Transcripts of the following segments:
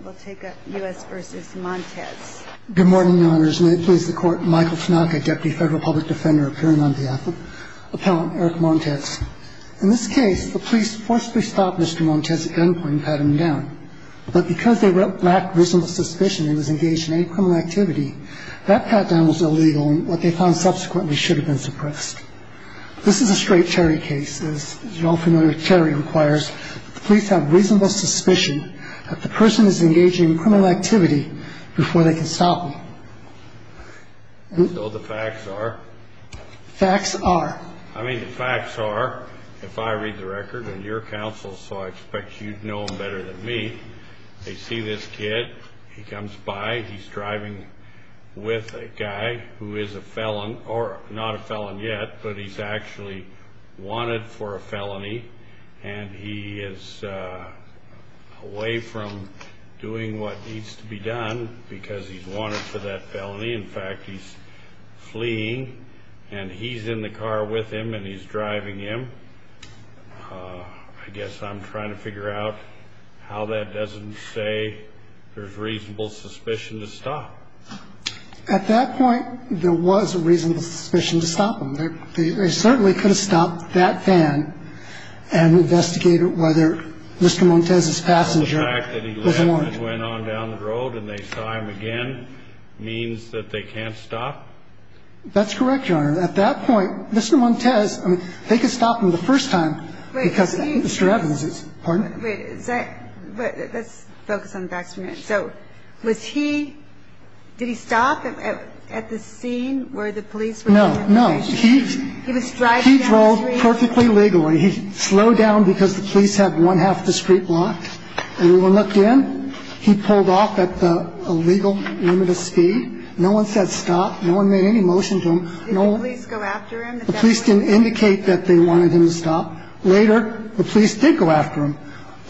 In this case, the police forcibly stopped Mr. Montes at gunpoint and pat him down. But because they lacked reasonable suspicion and he was engaged in any criminal activity, that pat-down was illegal and what they found subsequently should have been suppressed. This is a straight Terry case. As you're all familiar, Terry requires that the police have reasonable suspicion that the person is engaging in criminal activity before they can stop him. So the facts are, if I read the record and your counsel, so I expect you to know them better than me, they see this kid, he comes by, he's driving with a guy who is a felon or not a felon yet but he's actually wanted for a felony and he is away from doing what needs to be done because he's wanted for that felony. In fact, he's fleeing and he's in the car with him and he's driving him. I guess I'm trying to figure out how that doesn't say there's reasonable suspicion to stop. At that point, there was a reasonable suspicion to stop him. They certainly could have stopped that van and investigated whether Mr. Montes' passenger was alone. The fact that he went on down the road and they saw him again means that they can't stop? That's correct, Your Honor. At that point, Mr. Montes, I mean, they could stop him the first time because Mr. Evans is. Pardon? Let's focus on the facts for a minute. So was he, did he stop at the scene where the police were? No, no. He drove perfectly legally. He slowed down because the police had one half of the street blocked. Everyone looked in. He pulled off at the illegal limit of speed. No one said stop. No one made any motion to him. Did the police go after him? The police didn't indicate that they wanted him to stop. Later, the police did go after him.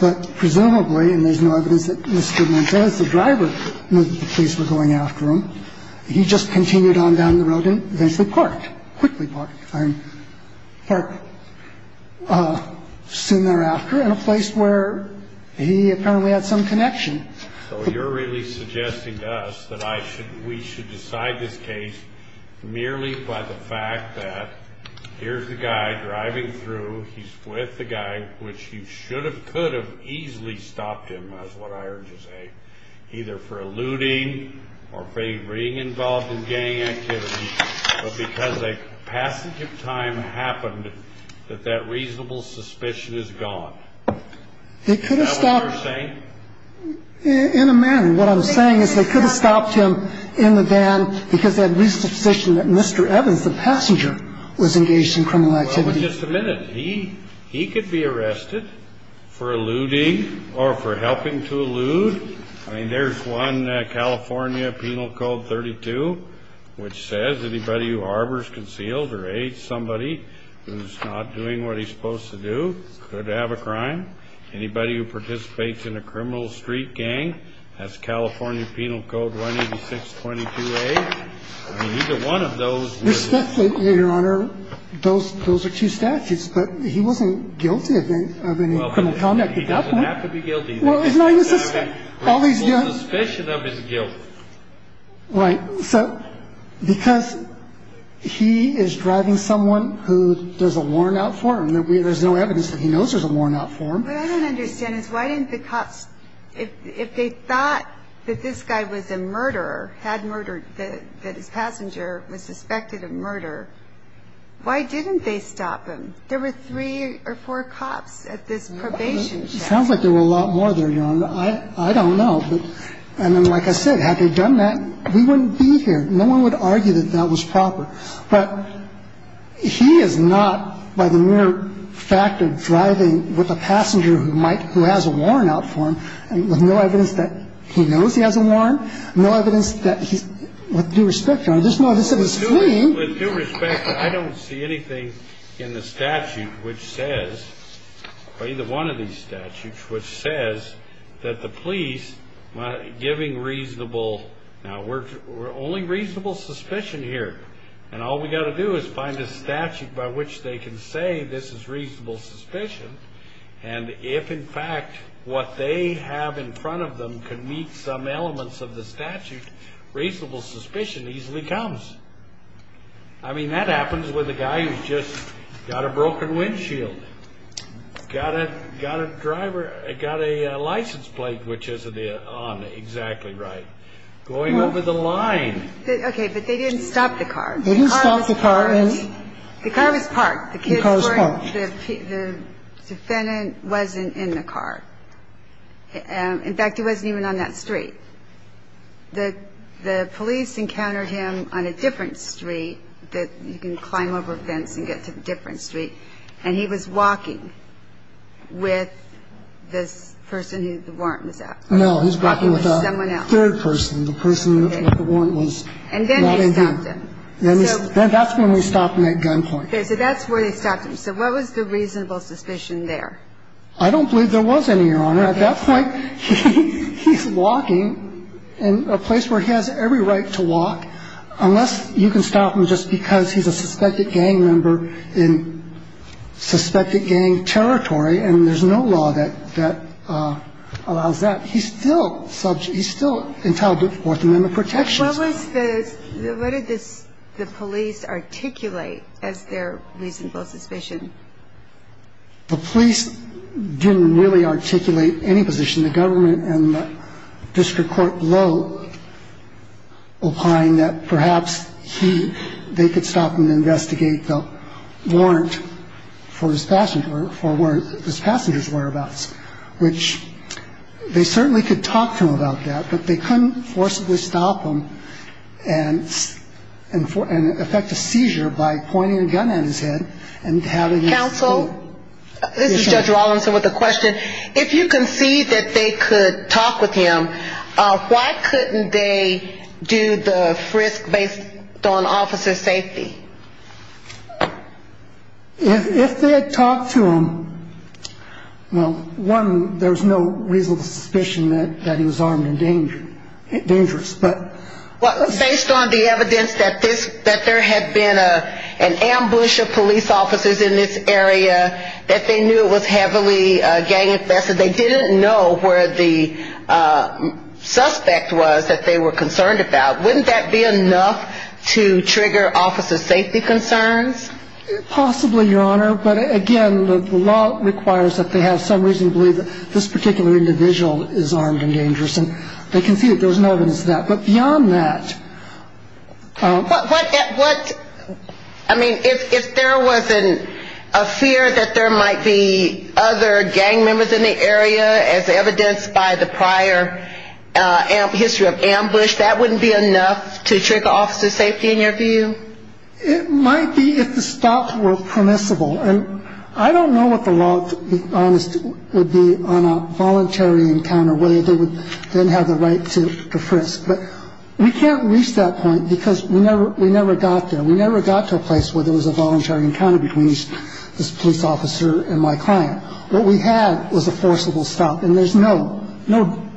But presumably, and there's no evidence that Mr. Montes, the driver, knew that the police were going after him. He just continued on down the road and eventually parked, quickly parked. Parked soon thereafter in a place where he apparently had some connection. So you're really suggesting to us that we should decide this case merely by the fact that here's the guy driving through. He's with the guy, which he should have, could have easily stopped him, is what I heard you say, either for eluding or for being involved in gang activity. But because a passage of time happened, that that reasonable suspicion is gone. They could have stopped him. Is that what you're saying? In a manner. What I'm saying is they could have stopped him in the van because that reasonable suspicion that Mr. Evans, the passenger, was engaged in criminal activity. Well, just a minute. He could be arrested for eluding or for helping to elude. I mean, there's one California Penal Code 32, which says anybody who harbors, conceals, or aids somebody who's not doing what he's supposed to do could have a crime. Anybody who participates in a criminal street gang has California Penal Code 186.22a. I mean, either one of those. Your Honor, those are two statutes. But he wasn't guilty of any criminal conduct at that point. He doesn't have to be guilty. Well, isn't that a suspicion of his guilt? Right. So because he is driving someone who does a worn-out form, there's no evidence that he knows there's a worn-out form. What I don't understand is why didn't the cops, if they thought that this guy was a murderer, had murdered, that his passenger was suspected of murder, why didn't they stop him? There were three or four cops at this probation check. Sounds like there were a lot more there, Your Honor. I don't know. And then, like I said, had they done that, we wouldn't be here. No one would argue that that was proper. But he is not, by the mere fact of driving with a passenger who has a worn-out form, there's no evidence that he knows he has a worn, no evidence that he's, with due respect, Your Honor, there's no evidence that he's fleeing. With due respect, I don't see anything in the statute which says, or either one of these statutes, which says that the police, giving reasonable, now we're only reasonable suspicion here, and all we've got to do is find a statute by which they can say this is reasonable suspicion, and if, in fact, what they have in front of them can meet some elements of the statute, reasonable suspicion easily comes. I mean, that happens with a guy who's just got a broken windshield, got a driver, got a license plate which isn't on exactly right, going over the line. Okay, but they didn't stop the car. They didn't stop the car. The car was parked. The car was parked. The defendant wasn't in the car. In fact, he wasn't even on that street. And he was walking with this person who the warrant was out for. No, he was walking with a third person. The person with the warrant was not in here. And then they stopped him. And that's when we stopped him at gunpoint. Okay, so that's where they stopped him. So what was the reasonable suspicion there? I don't believe there was any, Your Honor. I don't believe there was any reasonable suspicion there. I don't believe there was any reasonable suspicion there. Unless you can stop him just because he's a suspected gang member in suspected gang territory, and there's no law that allows that, he's still subject, he's still entitled to Fourth Amendment protections. What was the, what did the police articulate as their reasonable suspicion? The police didn't really articulate any position. The government and the district court blow, implying that perhaps they could stop him to investigate the warrant for his passenger, or warrant his passenger's whereabouts, which they certainly could talk to him about that, but they couldn't forcibly stop him and affect a seizure by pointing a gun at his head Counsel, this is Judge Rawlinson with a question. If you concede that they could talk with him, why couldn't they do the frisk based on officer's safety? If they had talked to him, well, one, there's no reasonable suspicion that he was armed and dangerous. Based on the evidence that there had been an ambush of police officers in this area, that they knew it was heavily gang infested, they didn't know where the suspect was that they were concerned about. Wouldn't that be enough to trigger officer's safety concerns? Possibly, Your Honor, but again, the law requires that they have some reason to believe that this particular individual is armed and dangerous, and they concede that there's no evidence of that. But beyond that... I mean, if there was a fear that there might be other gang members in the area, as evidenced by the prior history of ambush, that wouldn't be enough to trigger officer's safety in your view? It might be if the stops were permissible, and I don't know what the law, to be honest, would be on a voluntary encounter, whether they would then have the right to frisk. But we can't reach that point because we never got there. We never got to a place where there was a voluntary encounter between this police officer and my client. What we had was a forcible stop, and there's no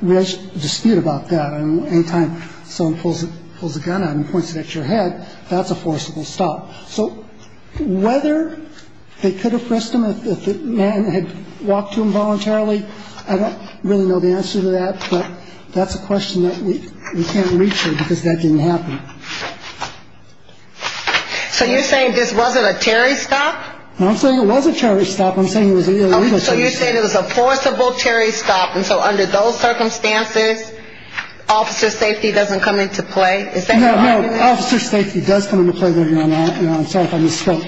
dispute about that. I mean, any time someone pulls a gun out and points it at your head, that's a forcible stop. So whether they could have frisked him if the man had walked to him voluntarily, I don't really know the answer to that, but that's a question that we can't reach here because that didn't happen. So you're saying this wasn't a Terry stop? No, I'm saying it was a Terry stop. I'm saying it was an illegal stop. So you're saying it was a forcible Terry stop, and so under those circumstances, officer's safety doesn't come into play? No, no, officer's safety does come into play there, Your Honor. I'm sorry if I misspoke.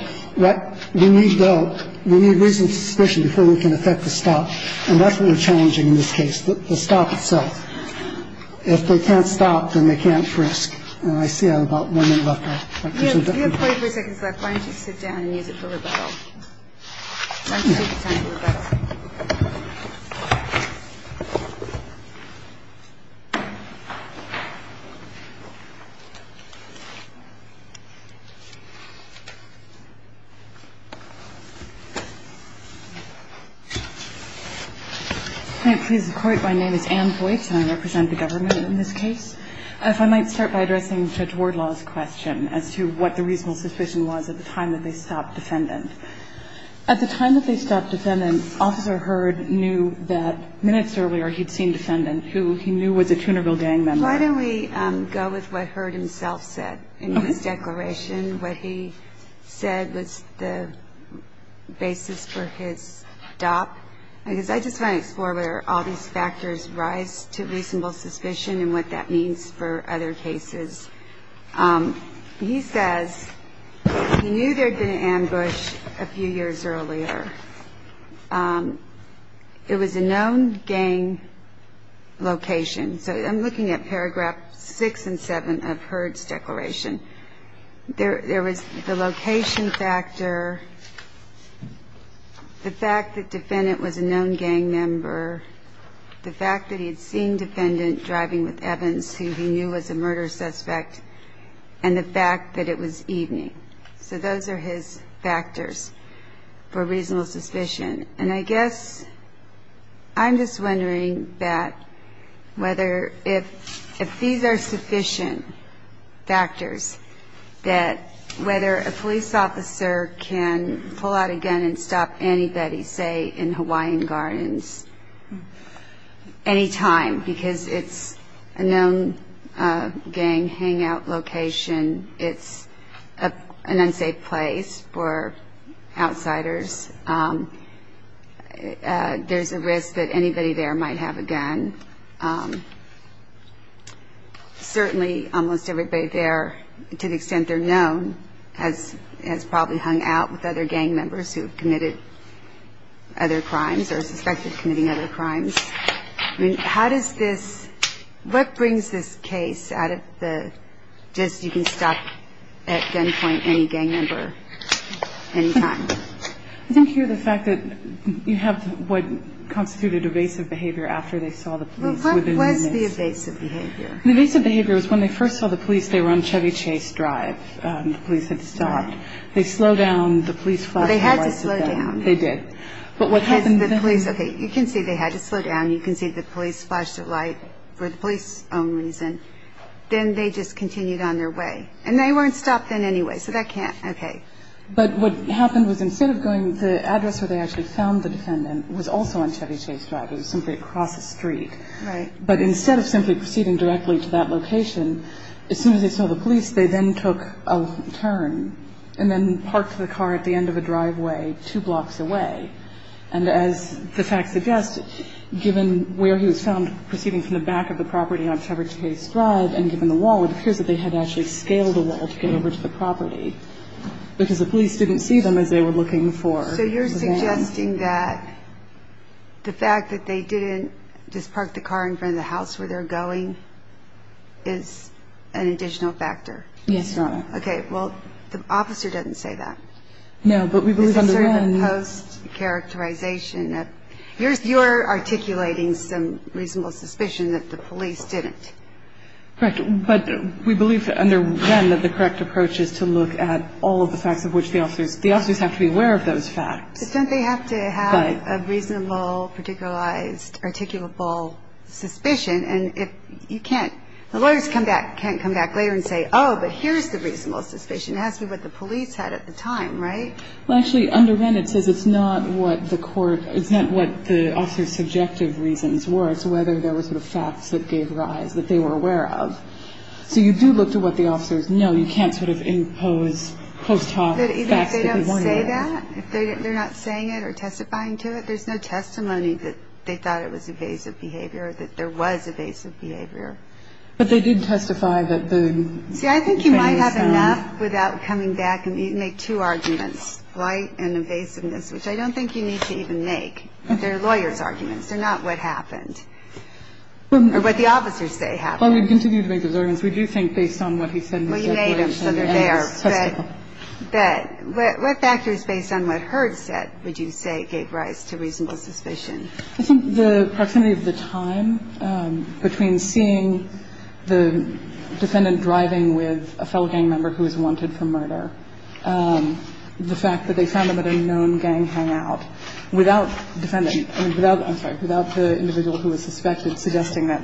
We need reasoned suspicion before we can effect a stop, and that's what we're challenging in this case, the stop itself. If they can't stop, then they can't frisk. I see I have about one minute left. We have 24 seconds left. Why don't you sit down and use it for rebuttal? Let's take the time for rebuttal. If I may please the Court, my name is Ann Voigt, and I represent the government in this case. If I might start by addressing Judge Wardlaw's question as to what the reasonable suspicion was at the time that they stopped defendant. At the time that they stopped defendant, Officer Hurd knew that minutes earlier he'd seen defendant who he knew was a Trinidad gang member. Why don't we go with what Hurd himself said in his declaration? What he said was the basis for his stop, because I just want to explore whether all these factors rise to reasonable suspicion and what that means for other cases. He says he knew there had been an ambush a few years earlier. It was a known gang location. So I'm looking at paragraph 6 and 7 of Hurd's declaration. There was the location factor, the fact that defendant was a known gang member, the fact that he had seen defendant driving with Evans who he knew was a murder suspect, and the fact that it was evening. So those are his factors for reasonable suspicion. And I guess I'm just wondering if these are sufficient factors that whether a police officer can pull out a gun and stop anybody, say, in Hawaiian Gardens any time, because it's a known gang hangout location, it's an unsafe place for outsiders, there's a risk that anybody there might have a gun. Certainly almost everybody there, to the extent they're known, has probably hung out with other gang members who have committed other crimes or are suspected of committing other crimes. What brings this case out of the just you can stop at gunpoint any gang member any time? I think here the fact that you have what constituted evasive behavior after they saw the police. Well, what was the evasive behavior? The evasive behavior was when they first saw the police, they were on Chevy Chase Drive. The police had stopped. They slowed down. The police flashed a warning to them. They had to slow down. They did. Okay, you can see they had to slow down. You can see the police flashed a light for the police's own reason. Then they just continued on their way. And they weren't stopped then anyway, so that can't, okay. But what happened was instead of going to the address where they actually found the defendant was also on Chevy Chase Drive. It was simply across the street. Right. But instead of simply proceeding directly to that location, as soon as they saw the police, they then took a turn and then parked the car at the end of a driveway two blocks away. And as the facts suggest, given where he was found proceeding from the back of the property on Chevy Chase Drive and given the wall, it appears that they had actually scaled the wall to get over to the property because the police didn't see them as they were looking for the van. So you're suggesting that the fact that they didn't just park the car in front of the house where they're going is an additional factor? Yes, Your Honor. Okay. Well, the officer doesn't say that. No, but we believe under Wren. This is sort of a post-characterization. You're articulating some reasonable suspicion that the police didn't. Correct. But we believe under Wren that the correct approach is to look at all of the facts of which the officers, the officers have to be aware of those facts. But don't they have to have a reasonable, particularized, articulable suspicion? And if you can't, the lawyers can't come back later and say, oh, but here's the reasonable suspicion. It has to be what the police had at the time, right? Well, actually, under Wren it says it's not what the court, it's not what the officer's subjective reasons were. It's whether there were sort of facts that gave rise that they were aware of. So you do look to what the officers know. But they didn't say that. They're not saying it or testifying to it. There's no testimony that they thought it was evasive behavior, that there was evasive behavior. But they did testify that the ---- See, I think you might have enough without coming back and make two arguments, blight and evasiveness, which I don't think you need to even make. They're lawyers' arguments. They're not what happened or what the officers say happened. Well, we'd continue to make those arguments. We do think based on what he said in his testimony. Well, you made them, so they're there. But what factors based on what Herd said would you say gave rise to reasonable suspicion? I think the proximity of the time between seeing the defendant driving with a fellow gang member who was wanted for murder, the fact that they found them at a known gang hangout, without defendant, I'm sorry, without the individual who was suspected, suggesting that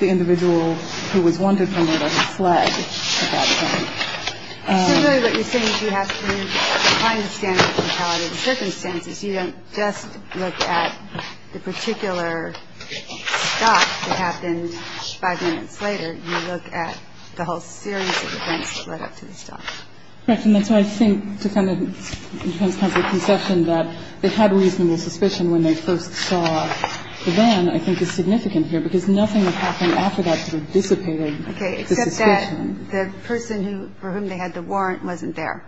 the individual who was wanted for murder fled at that time. So really what you're saying is you have to find the standard of morality of the circumstances. You don't just look at the particular stop that happened five minutes later. You look at the whole series of events that led up to the stop. Correct. And that's why I think the defendant's public conception that they had reasonable suspicion when they first saw the van, I think, is significant here because nothing that happened after that sort of dissipated the suspicion. Okay. Except that the person for whom they had the warrant wasn't there.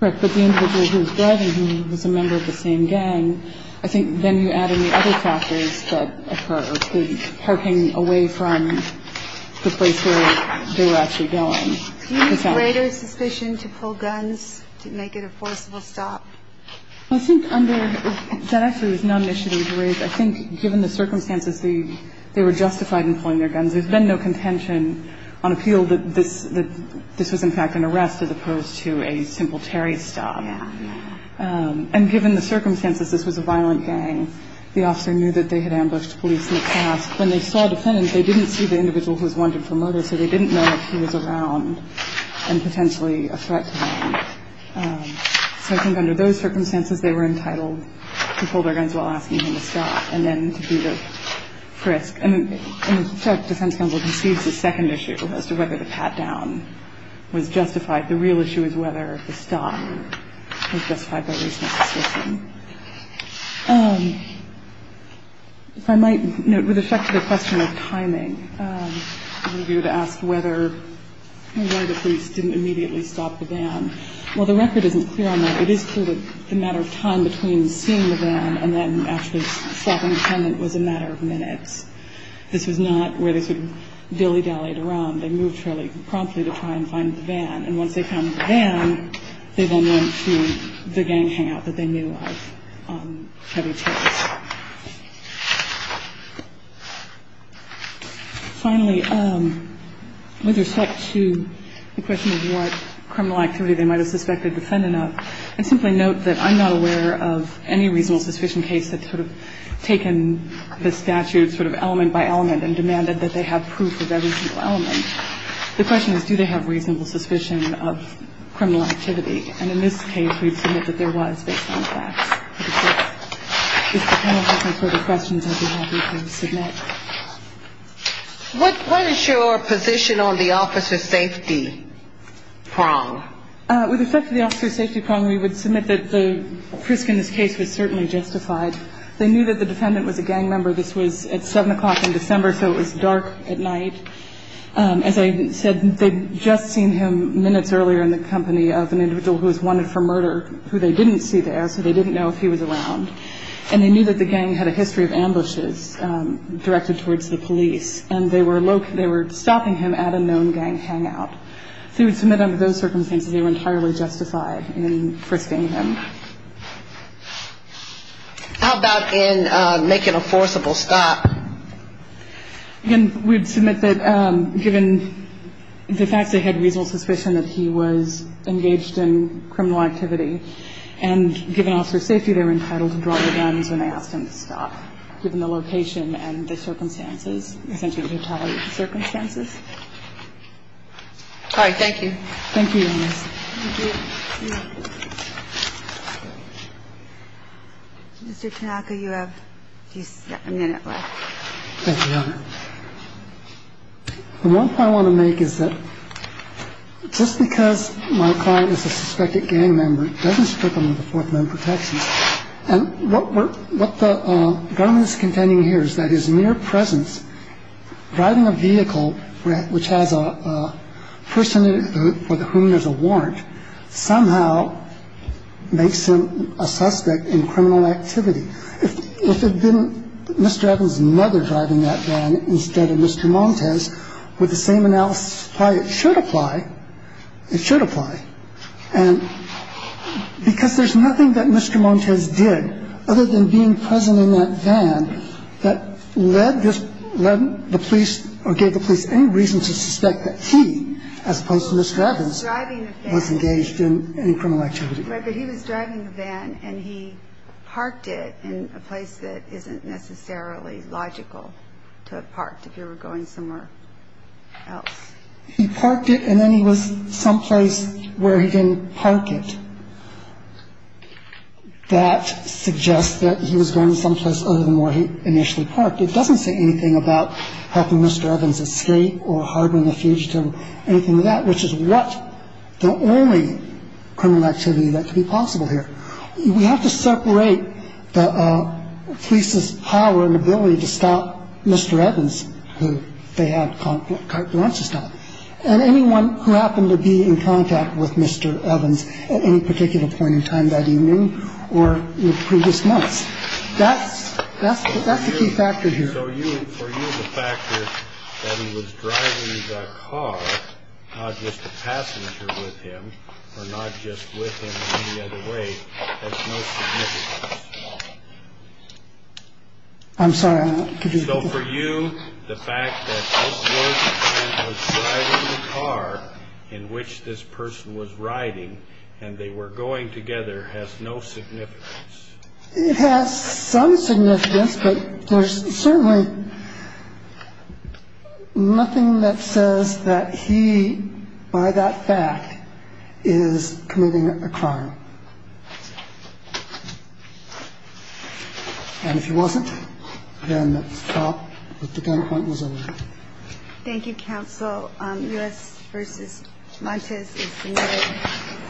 Correct. But the individual who was driving, who was a member of the same gang, I think then you add in the other factors that occurred, the parking away from the place where they were actually going. Do you use greater suspicion to pull guns to make it a forcible stop? Well, I think under that actually was not an initiative to raise. I think given the circumstances, they were justified in pulling their guns. There's been no contention on appeal that this was in fact an arrest as opposed to a simple Terry stop. Yeah, yeah. And given the circumstances, this was a violent gang. The officer knew that they had ambushed police in the past. When they saw a defendant, they didn't see the individual who was wanted for murder, so they didn't know that he was around and potentially a threat to them. So I think under those circumstances, they were entitled to pull their guns while asking him to stop and then to do the frisk. And in fact, defense counsel concedes the second issue as to whether the pat-down was justified. The real issue is whether the stop was justified by reason of suspicion. If I might note, with respect to the question of timing, you would ask whether or why the police didn't immediately stop the van. Well, the record isn't clear on that. It is clear that the matter of time between seeing the van and then actually stopping the defendant was a matter of minutes. This was not where they sort of dilly-dallied around. They moved fairly promptly to try and find the van. And once they found the van, they went to the gang hangout that they knew of. Finally, with respect to the question of what criminal activity they might have suspected the defendant of, I simply note that I'm not aware of any reasonable suspicion case that sort of taken the statute sort of element by element and demanded that they have proof of every single element. The question is, do they have reasonable suspicion of criminal activity? And in this case, we'd submit that there was based on facts. If the panel has any further questions, I'd be happy to submit. What is your position on the officer safety prong? With respect to the officer safety prong, we would submit that the risk in this case was certainly justified. They knew that the defendant was a gang member. This was at 7 o'clock in December, so it was dark at night. As I said, they'd just seen him minutes earlier in the company of an individual who was wanted for murder, who they didn't see there, so they didn't know if he was around. And they knew that the gang had a history of ambushes directed towards the police, and they were stopping him at a known gang hangout. So we'd submit under those circumstances they were entirely justified in frisking him. How about in making a forcible stop? Again, we'd submit that given the facts, they had reasonable suspicion that he was engaged in criminal activity. And given officer safety, they were entitled to draw their guns when they asked him to stop, given the location and the circumstances, essentially the totality of the circumstances. All right. Thank you. Thank you, Your Honor. Thank you. Mr. Tanaka, you have a minute left. Thank you, Your Honor. The point I want to make is that just because my client is a suspected gang member doesn't strip him of the Fourth Amendment protections. And what the government is contending here is that his mere presence, driving a vehicle which has a person for whom there's a warrant, somehow makes him a suspect in criminal activity. If it had been Mr. Evans' mother driving that van instead of Mr. Montes, would the same analysis apply? It should apply. It should apply. And because there's nothing that Mr. Montes did other than being present in that van that led the police or gave the police any reason to suspect that he, as opposed to Mr. Evans, was engaged in any criminal activity. Right, but he was driving the van, and he parked it in a place that isn't necessarily logical to have parked if you were going somewhere else. He parked it, and then he was someplace where he didn't park it. That suggests that he was going someplace other than where he initially parked. It doesn't say anything about helping Mr. Evans escape or harboring a fugitive or anything like that, which is what? The only criminal activity that could be possible here. We have to separate the police's power and ability to stop Mr. Evans, who they have carte blanche to stop, and anyone who happened to be in contact with Mr. Evans at any particular point in time that evening or in previous months. That's the key factor here. So for you, the fact that he was driving the car, not just the passenger with him or not just with him in any other way, has no significance. I'm sorry. So for you, the fact that this was the van that was driving the car in which this person was riding and they were going together has no significance. It has some significance, but there's certainly nothing that says that he, by that fact, is committing a crime. And if he wasn't, then the thought that the gunpoint was over. Thank you, Counsel. U.S. v. Montes is submitted.